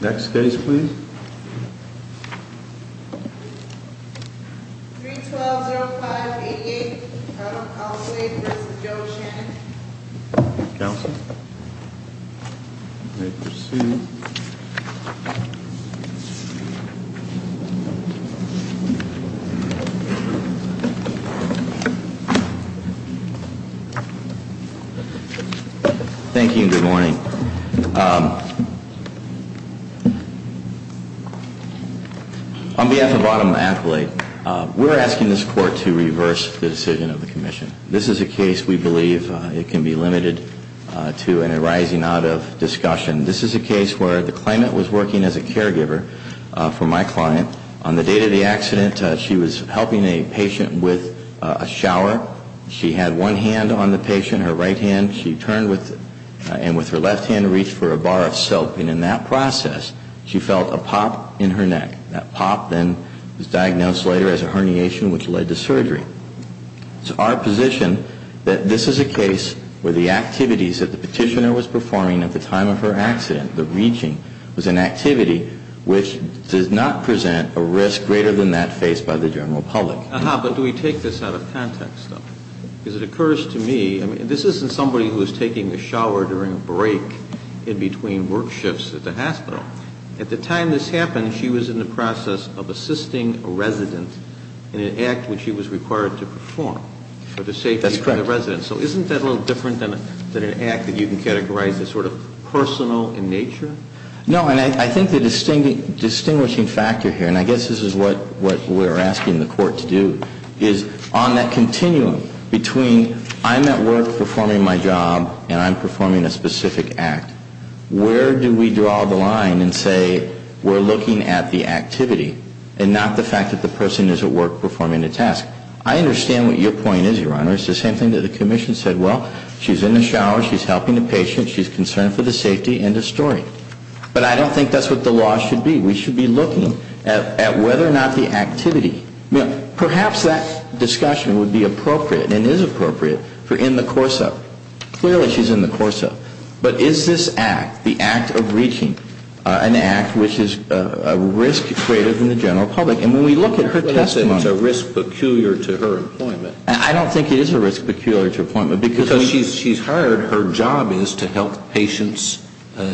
Next case please. 312-0588, Adam Accolade v. Joe Shannon Counsel. May it proceed. Thank you and good morning. On behalf of Adam Accolade, we're asking this court to reverse the decision of the commission. This is a case we believe it can be limited to an arising out of discussion. This is a case where the claimant was working as a caregiver for my client. On the date of the accident, she was helping a patient with a shower. She had one hand on the patient, her right hand. She turned and with her left hand reached for a bar of soap. While she was helping in that process, she felt a pop in her neck. That pop then was diagnosed later as a herniation which led to surgery. It's our position that this is a case where the activities that the petitioner was performing at the time of her accident, the reaching, was an activity which does not present a risk greater than that faced by the general public. Aha, but do we take this out of context though? Because it occurs to me, this isn't somebody who is taking a shower during a break in between work shifts at the hospital. At the time this happened, she was in the process of assisting a resident in an act which she was required to perform for the safety of the resident. That's correct. So isn't that a little different than an act that you can categorize as sort of personal in nature? No, and I think the distinguishing factor here, and I guess this is what we're asking the court to do, is on that continuum between I'm at work performing my job and I'm performing a specific act, where do we draw the line and say we're looking at the activity and not the fact that the person is at work performing a task? I understand what your point is, Your Honor. It's the same thing that the Commission said. Well, she's in the shower, she's helping the patient, she's concerned for the safety, end of story. But I don't think that's what the law should be. We should be looking at whether or not the activity, perhaps that discussion would be appropriate and is appropriate for in the course of. Clearly she's in the course of. But is this act, the act of reaching an act which is a risk greater than the general public? And when we look at her testimony. Well, you said it's a risk peculiar to her employment. I don't think it is a risk peculiar to her employment. Because she's hired, her job is to help patients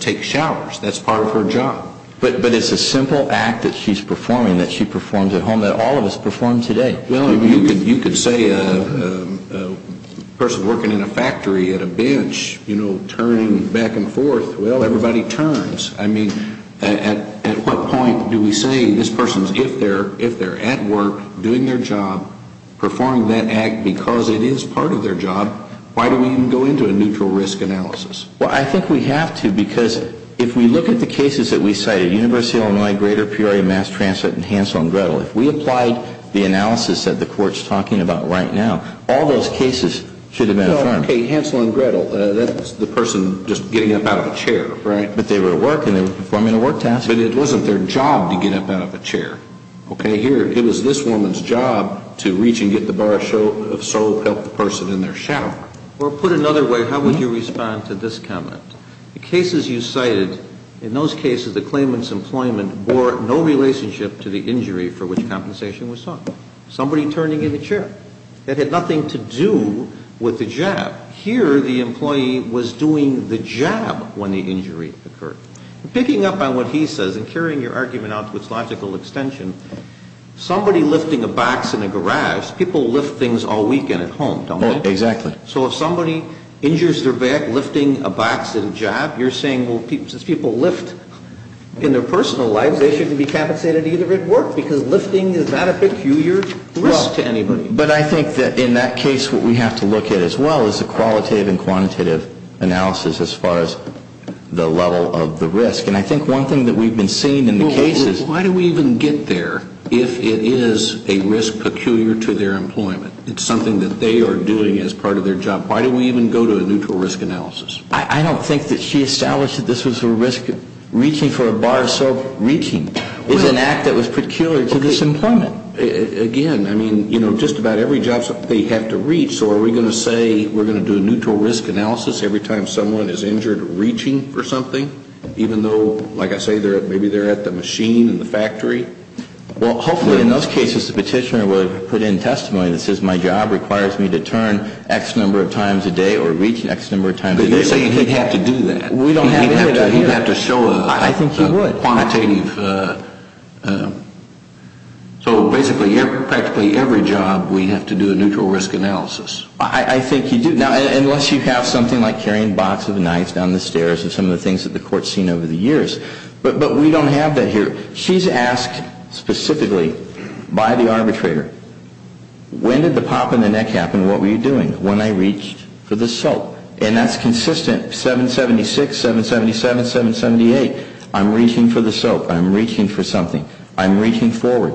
take showers. That's part of her job. But it's a simple act that she's performing that she performs at home that all of us perform today. Well, you could say a person working in a factory at a bench, you know, turning back and forth. Well, everybody turns. I mean, at what point do we say this person, if they're at work, doing their job, performing that act because it is part of their job, why do we even go into a neutral risk analysis? Well, I think we have to because if we look at the cases that we cited, University of Illinois, greater Peoria mass transplant and Hansel and Gretel, if we applied the analysis that the Court's talking about right now, all those cases should have been affirmed. No, okay, Hansel and Gretel, that's the person just getting up out of a chair, right? But they were at work and they were performing a work task. But it wasn't their job to get up out of a chair, okay? It was this woman's job to reach and get the bar of soap, help the person in their shower. Well, put another way, how would you respond to this comment? The cases you cited, in those cases, the claimant's employment bore no relationship to the injury for which compensation was sought. Somebody turning in a chair. It had nothing to do with the jab. Here, the employee was doing the jab when the injury occurred. Picking up on what he says and carrying your argument out to its logical extension, somebody lifting a box in a garage, people lift things all weekend at home, don't they? Exactly. So if somebody injures their back lifting a box at a job, you're saying, well, since people lift in their personal lives, they shouldn't be compensated either at work? Because lifting is not a peculiar risk to anybody. Well, but I think that in that case, what we have to look at as well is the qualitative and quantitative analysis as far as the level of the risk. And I think one thing that we've been seeing in the cases Well, why do we even get there if it is a risk peculiar to their employment? It's something that they are doing as part of their job. Why do we even go to a neutral risk analysis? I don't think that she established that this was a risk. Reaching for a bar of soap, reaching, is an act that was peculiar to this employment. Again, I mean, you know, just about every job they have to reach. So are we going to say we're going to do a neutral risk analysis every time someone is injured reaching for something? Even though, like I say, maybe they're at the machine in the factory? Well, hopefully in those cases the petitioner would put in testimony that says my job requires me to turn X number of times a day or reach X number of times a day. But you're saying he'd have to do that. He'd have to show a quantitative. I think he would. So basically practically every job we have to do a neutral risk analysis. I think you do. Now, unless you have something like carrying a box of knives down the stairs or some of the things that the court has seen over the years. But we don't have that here. She's asked specifically by the arbitrator, when did the pop in the neck happen? What were you doing when I reached for the soap? And that's consistent 776, 777, 778. I'm reaching for the soap. I'm reaching for something. I'm reaching forward.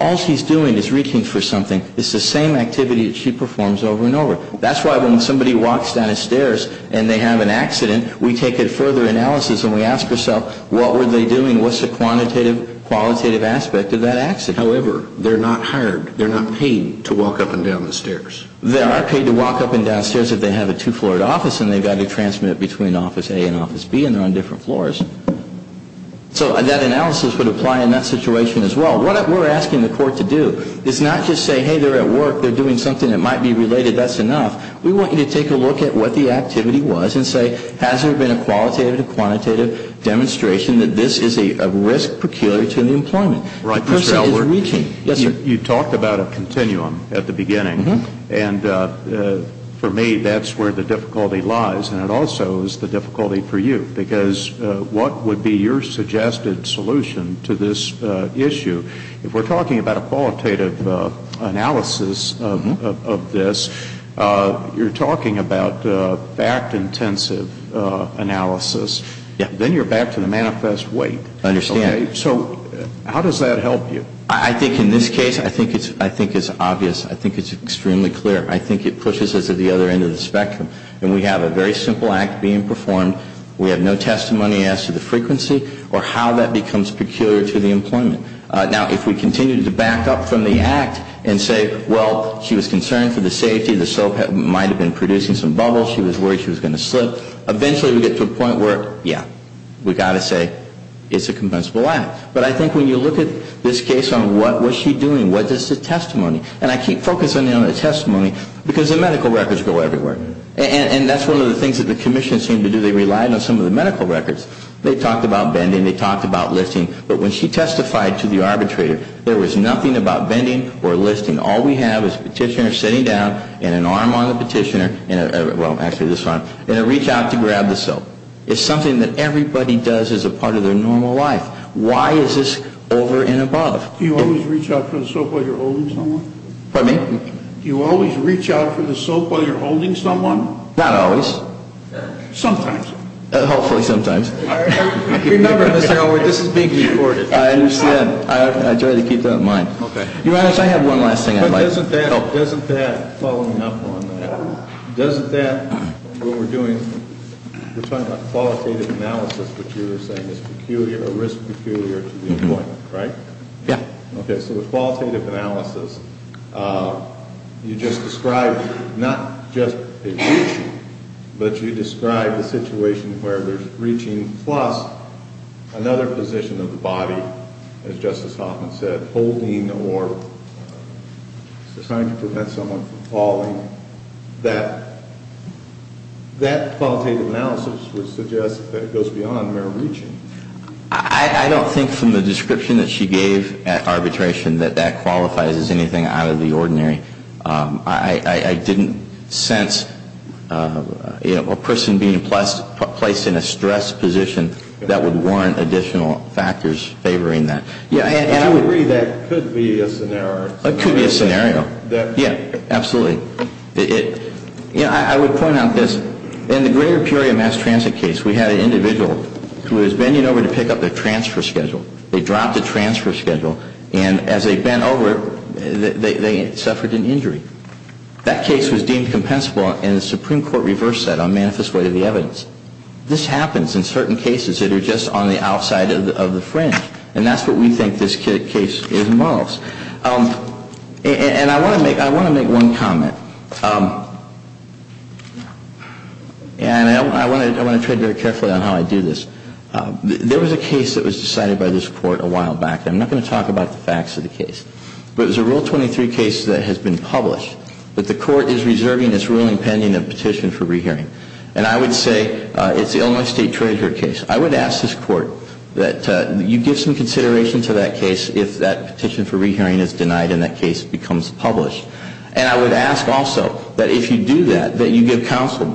All she's doing is reaching for something. It's the same activity that she performs over and over. That's why when somebody walks down the stairs and they have an accident, we take a further analysis and we ask ourselves, what were they doing? What's the quantitative, qualitative aspect of that accident? However, they're not hired. They're not paid to walk up and down the stairs. They are paid to walk up and down stairs if they have a two-floored office and they've got to transmit between office A and office B and they're on different floors. So that analysis would apply in that situation as well. What we're asking the court to do is not just say, hey, they're at work. They're doing something that might be related. That's enough. We want you to take a look at what the activity was and say, has there been a qualitative or quantitative demonstration that this is a risk peculiar to the employment? The person is reaching. You talked about a continuum at the beginning. And for me, that's where the difficulty lies. And it also is the difficulty for you because what would be your suggested solution to this issue? If we're talking about a qualitative analysis of this, you're talking about fact-intensive analysis. Then you're back to the manifest weight. I understand. So how does that help you? I think in this case, I think it's obvious. I think it's extremely clear. I think it pushes us to the other end of the spectrum. And we have a very simple act being performed. We have no testimony as to the frequency or how that becomes peculiar to the employment. Now, if we continue to back up from the act and say, well, she was concerned for the safety. The soap might have been producing some bubbles. She was worried she was going to slip. Eventually, we get to a point where, yeah, we've got to say it's a compensable act. But I think when you look at this case on what was she doing, what is the testimony? And I keep focusing on the testimony because the medical records go everywhere. And that's one of the things that the commission seemed to do. They relied on some of the medical records. They talked about bending. They talked about lifting. But when she testified to the arbitrator, there was nothing about bending or lifting. All we have is a petitioner sitting down and an arm on the petitioner. Well, actually, this arm. And a reach out to grab the soap. It's something that everybody does as a part of their normal life. Why is this over and above? Do you always reach out for the soap while you're holding someone? Pardon me? Do you always reach out for the soap while you're holding someone? Not always. Sometimes. Hopefully sometimes. Remember, Mr. Elwood, this is being recorded. I understand. I try to keep that in mind. Your Honor, if I have one last thing I'd like to add. Doesn't that, following up on that, doesn't that, what we're doing, we're talking about qualitative analysis, which you were saying is a risk peculiar to the appointment, right? Yeah. Okay, so the qualitative analysis, you just described not just a reaching, but you described a situation where there's reaching plus another position of the body, as Justice Hoffman said, holding or trying to prevent someone from falling. That qualitative analysis would suggest that it goes beyond mere reaching. I don't think from the description that she gave at arbitration that that qualifies as anything out of the ordinary. I didn't sense a person being placed in a stressed position that would warrant additional factors favoring that. To a degree, that could be a scenario. It could be a scenario. Yeah, absolutely. I would point out this. In the greater Peoria mass transit case, we had an individual who was bending over to pick up their transfer schedule. They dropped the transfer schedule, and as they bent over, they suffered an injury. That case was deemed compensable in the Supreme Court reverse set on manifest way of the evidence. This happens in certain cases that are just on the outside of the fringe. And that's what we think this case involves. And I want to make one comment. And I want to tread very carefully on how I do this. There was a case that was decided by this Court a while back. I'm not going to talk about the facts of the case. But it was a Rule 23 case that has been published. But the Court is reserving its ruling pending a petition for rehearing. And I would say it's the Illinois State Treasurer case. I would ask this Court that you give some consideration to that case if that petition for rehearing is denied and that case becomes published. And I would ask also that if you do that, that you give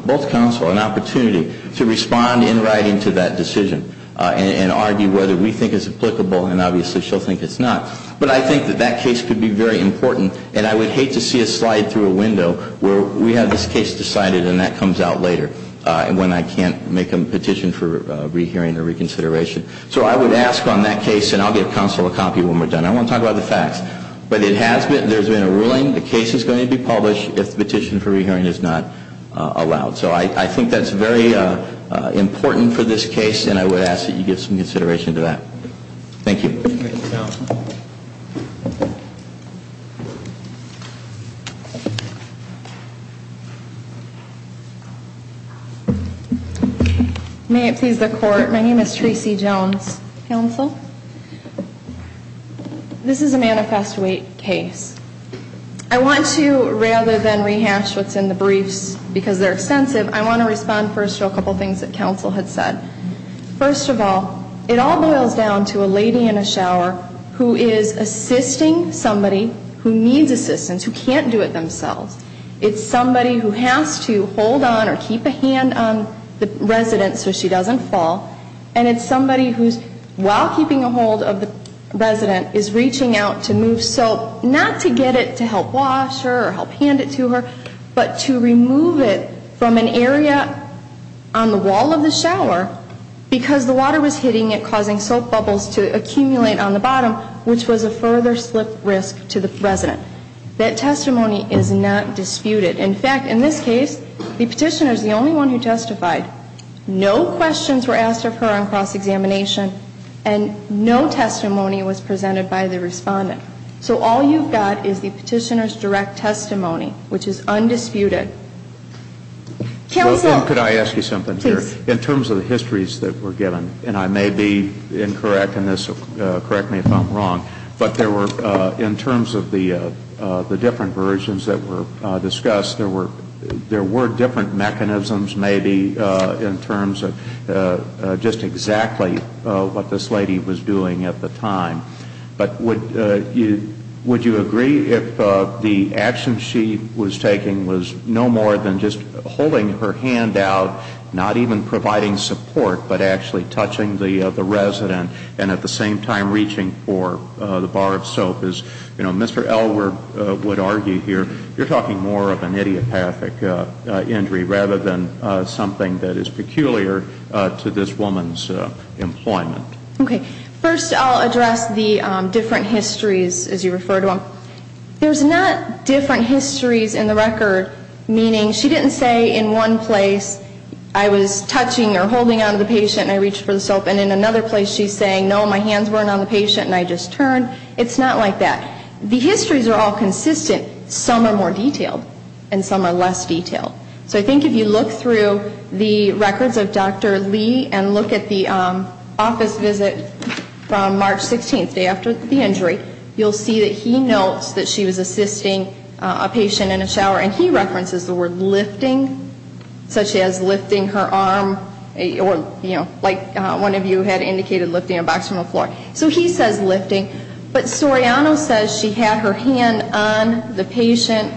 both counsel an opportunity to respond in writing to that decision and argue whether we think it's applicable and obviously she'll think it's not. But I think that that case could be very important. And I would hate to see a slide through a window where we have this case decided and that comes out later when I can't make a petition for rehearing or reconsideration. So I would ask on that case, and I'll give counsel a copy when we're done. I want to talk about the facts. But it has been, there's been a ruling. The case is going to be published if the petition for rehearing is not allowed. So I think that's very important for this case and I would ask that you give some consideration to that. Thank you. May it please the Court. My name is Tracy Jones. Counsel. This is a manifesto case. I want to, rather than rehash what's in the briefs because they're extensive, I want to respond first to a couple things that counsel had said. First of all, it all boils down to a lady in a shower who is assisting somebody who needs assistance, who can't do it themselves. It's somebody who has to hold on or keep a hand on the resident so she doesn't fall. And it's somebody who's, while keeping a hold of the resident, is reaching out to move soap, not to get it to help wash her or help hand it to her, but to remove it from an area on the wall of the shower because the water was hitting it, causing soap bubbles to accumulate on the bottom, which was a further slip risk to the resident. That testimony is not disputed. In fact, in this case, the petitioner is the only one who testified. No questions were asked of her on cross-examination. And no testimony was presented by the respondent. So all you've got is the petitioner's direct testimony, which is undisputed. Counsel. Well, and could I ask you something here? Please. In terms of the histories that were given, and I may be incorrect in this, correct me if I'm wrong, but there were, in terms of the different versions that were discussed, there were different mechanisms, maybe, in terms of just exactly what this lady was doing at the time. But would you agree if the action she was taking was no more than just holding her hand out, not even providing support, but actually touching the resident, and at the same time reaching for the bar of soap? As, you know, Mr. Elwood would argue here, you're talking more of an idiopathic injury rather than something that is peculiar to this woman's employment. Okay. First, I'll address the different histories, as you refer to them. There's not different histories in the record, meaning she didn't say in one place, I was touching or holding on to the patient and I reached for the soap, and in another place she's saying, no, my hands weren't on the patient and I just turned. It's not like that. The histories are all consistent. Some are more detailed and some are less detailed. So I think if you look through the records of Dr. Lee and look at the office visit from March 16th, the day after the injury, you'll see that he notes that she was assisting a patient in a shower, and he references the word lifting, such as lifting her arm, or, you know, like one of you had indicated, lifting a box from the floor. So he says lifting, but Soriano says she had her hand on the patient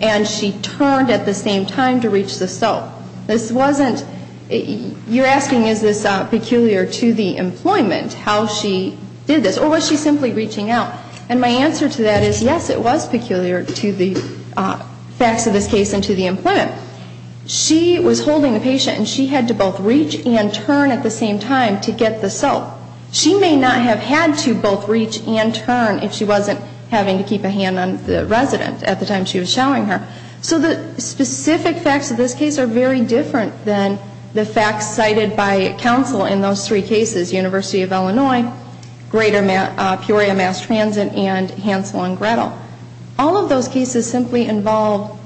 and she turned at the same time to reach the soap. This wasn't, you're asking is this peculiar to the employment, how she did this, or was she simply reaching out? And my answer to that is, yes, it was peculiar to the facts of this case and to the employment. She was holding the patient and she had to both reach and turn at the same time to get the soap. She would not have had to both reach and turn if she wasn't having to keep a hand on the resident at the time she was showering her. So the specific facts of this case are very different than the facts cited by counsel in those three cases, University of Illinois, Greater Peoria Mass Transit, and Hansel and Gretel. All of those cases simply involved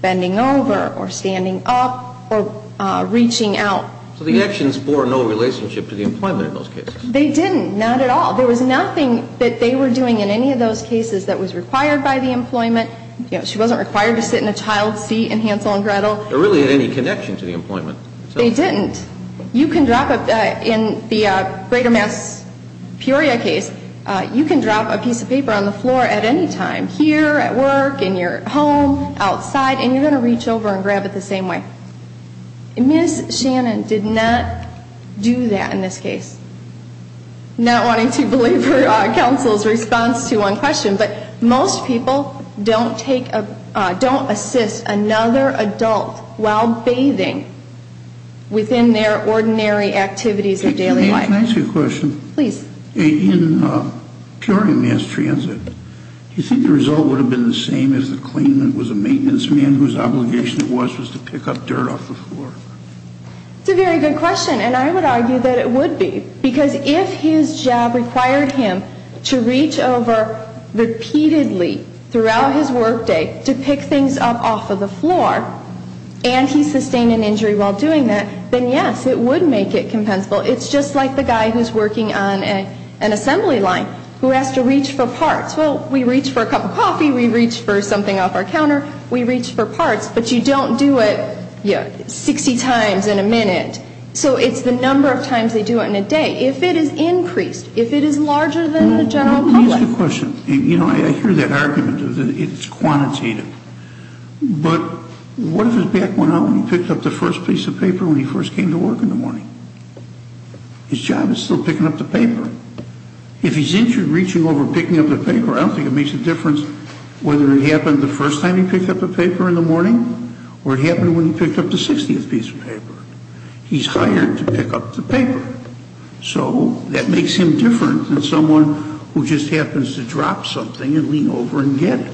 bending over or standing up or reaching out. So the actions bore no relationship to the employment in those cases? They didn't, not at all. There was nothing that they were doing in any of those cases that was required by the employment. She wasn't required to sit in a child's seat in Hansel and Gretel. There really isn't any connection to the employment. They didn't. You can drop, in the Greater Mass Peoria case, you can drop a piece of paper on the floor at any time, here, at work, in your home, outside, and you're going to reach over and grab it the same way. Ms. Shannon did not do that in this case. Not wanting to belabor counsel's response to one question, but most people don't assist another adult while bathing within their ordinary activities of daily life. Can I ask you a question? Please. In Peoria Mass Transit, do you think the result would have been the same as the claimant was a maintenance man whose obligation it was was to pick up dirt off the floor? That's a very good question, and I would argue that it would be. Because if his job required him to reach over repeatedly throughout his workday to pick things up off of the floor, and he sustained an injury while doing that, then yes, it would make it compensable. It's just like the guy who's working on an assembly line who has to reach for parts. Well, we reach for a cup of coffee, we reach for something off our counter, we reach for parts, but you don't do it 60 times in a minute. So it's the number of times they do it in a day. If it is increased, if it is larger than the general public. Let me ask you a question. You know, I hear that argument that it's quantitative, but what if his back went out when he picked up the first piece of paper when he first came to work in the morning? His job is still picking up the paper. If he's injured reaching over and picking up the paper, I don't think it makes a difference whether it happened the first time he picked up the paper in the morning or it happened when he picked up the 60th piece of paper. He's hired to pick up the paper. So that makes him different than someone who just happens to drop something and lean over and get it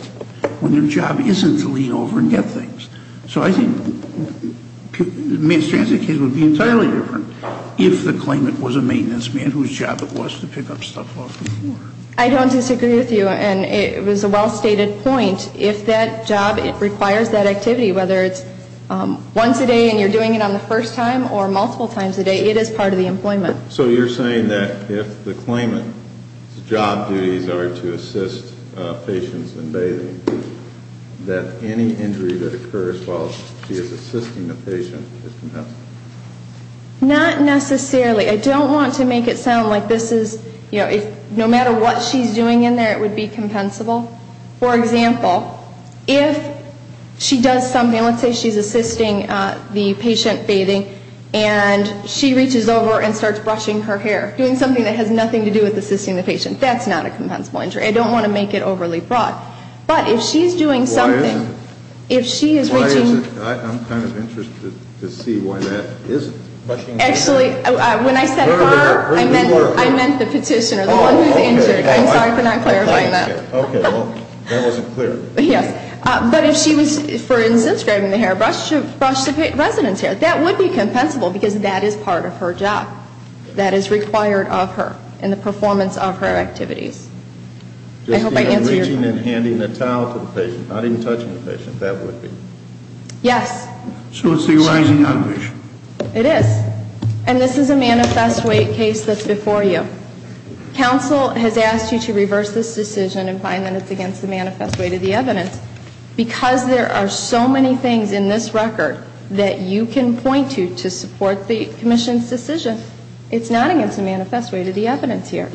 when their job isn't to lean over and get things. So I think a mass transit case would be entirely different if the claimant was a maintenance man whose job it was to pick up stuff off the floor. I don't disagree with you, and it was a well-stated point. If that job requires that activity, whether it's once a day and you're doing it the first time or multiple times a day, it is part of the employment. So you're saying that if the claimant's job duties are to assist patients in bathing, that any injury that occurs while she is assisting the patient is compensable? Not necessarily. I don't want to make it sound like this is, you know, no matter what she's doing in there, it would be compensable. For example, if she does something, let's say she's assisting the patient bathing and she reaches over and starts brushing her hair, doing something that has nothing to do with assisting the patient. That's not a compensable injury. I don't want to make it overly broad. But if she's doing something, if she is reaching... Why is it? I'm kind of interested to see why that isn't. Actually, when I said her, I meant the petitioner, the one who's injured. I'm sorry for not clarifying that. Okay, well, that wasn't clear. Yes. But if she was, for instance, grabbing the hair, that would be compensable, because that is part of her job. That is required of her in the performance of her activities. I hope I answered your question. Just reaching and handing the towel to the patient, not even touching the patient, that would be. Yes. So it's the arising of the patient. It is. And this is a manifest weight case that's before you. Counsel has asked you to reverse this decision and find that it's against the manifest weight of the evidence. Because there are so many things in this record to support the commission's decision. It's not against the manifest weight of the evidence here.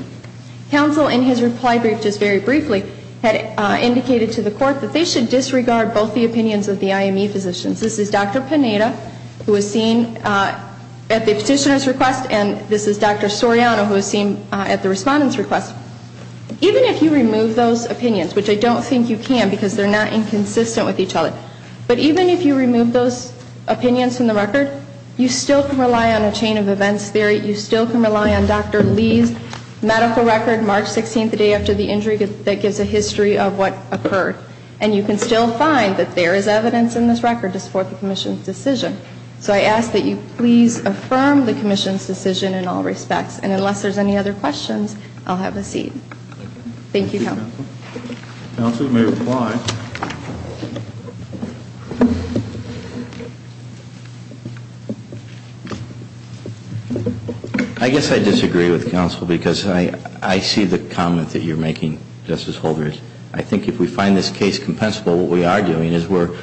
Counsel, in his reply brief just very briefly, had indicated to the court that they should disregard both the opinions of the IME physicians. This is Dr. Pineda, who was seen at the petitioner's request, and this is Dr. Soriano, who was seen at the respondent's request. Even if you remove those opinions, which I don't think you can, because they're not inconsistent with each other, but even if you remove those opinions from the record, you still can rely on a chain of events theory. You still can rely on Dr. Lee's medical record, March 16th, the day after the injury, that gives a history of what occurred. And you can still find that there is evidence in this record to support the commission's decision. So I ask that you please affirm the commission's decision in all respects. And unless there's any other questions, I'll have a seat. Thank you, counsel. Counsel, you may reply. I guess I disagree with counsel because I see the comment that you're making, Justice Holder. I think if we find this case compensable, what we are doing is we're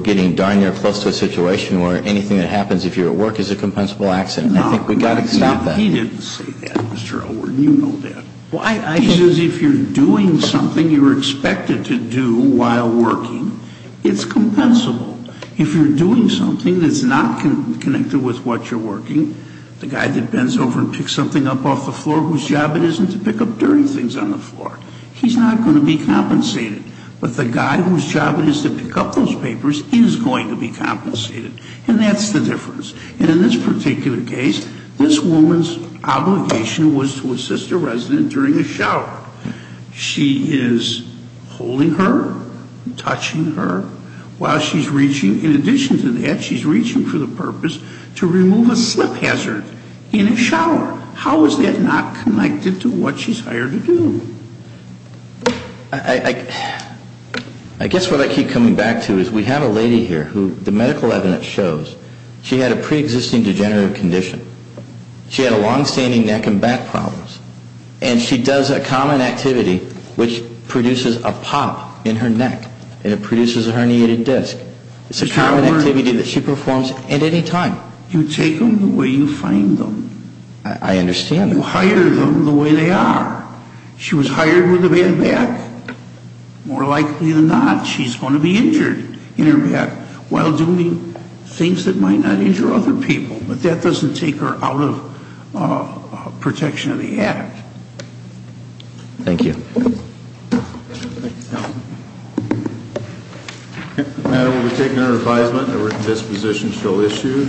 getting darn near close to a situation where anything that happens if you're at work is a compensable accident. I think we've got to stop that. No, he didn't say that, Mr. Elward. You know that. He says if you're doing something you're expected to do while working, it's compensable. If you're doing something that's not connected with what you're working, the guy that bends over and picks something up off the floor whose job it is to pick up dirty things on the floor, he's not going to be compensated. But the guy whose job it is to pick up those papers is going to be compensated. And that's the difference. And in this particular case, this woman's obligation was to assist a resident during a shower. She is holding her, touching her, while she's reaching. In addition to that, she's reaching for the purpose to remove a slip hazard in a shower. How is that not connected to what she's hired to do? I guess what I keep coming back to is we have a lady here who the medical evidence shows she had a preexisting degenerative condition. She had a longstanding neck and back problems. And she does a common activity which produces a pop in her neck. And it produces a herniated disc. And it's a common activity that she performs at any time. You take them the way you find them. I understand. You hire them the way they are. She was hired with a bad back. More likely than not, she's going to be injured in her back while doing things that might not injure other people. But that doesn't take her out of protection of the act. Thank you. Thank you. Madam, we'll be taking her into advisement. A written disposition shall issue.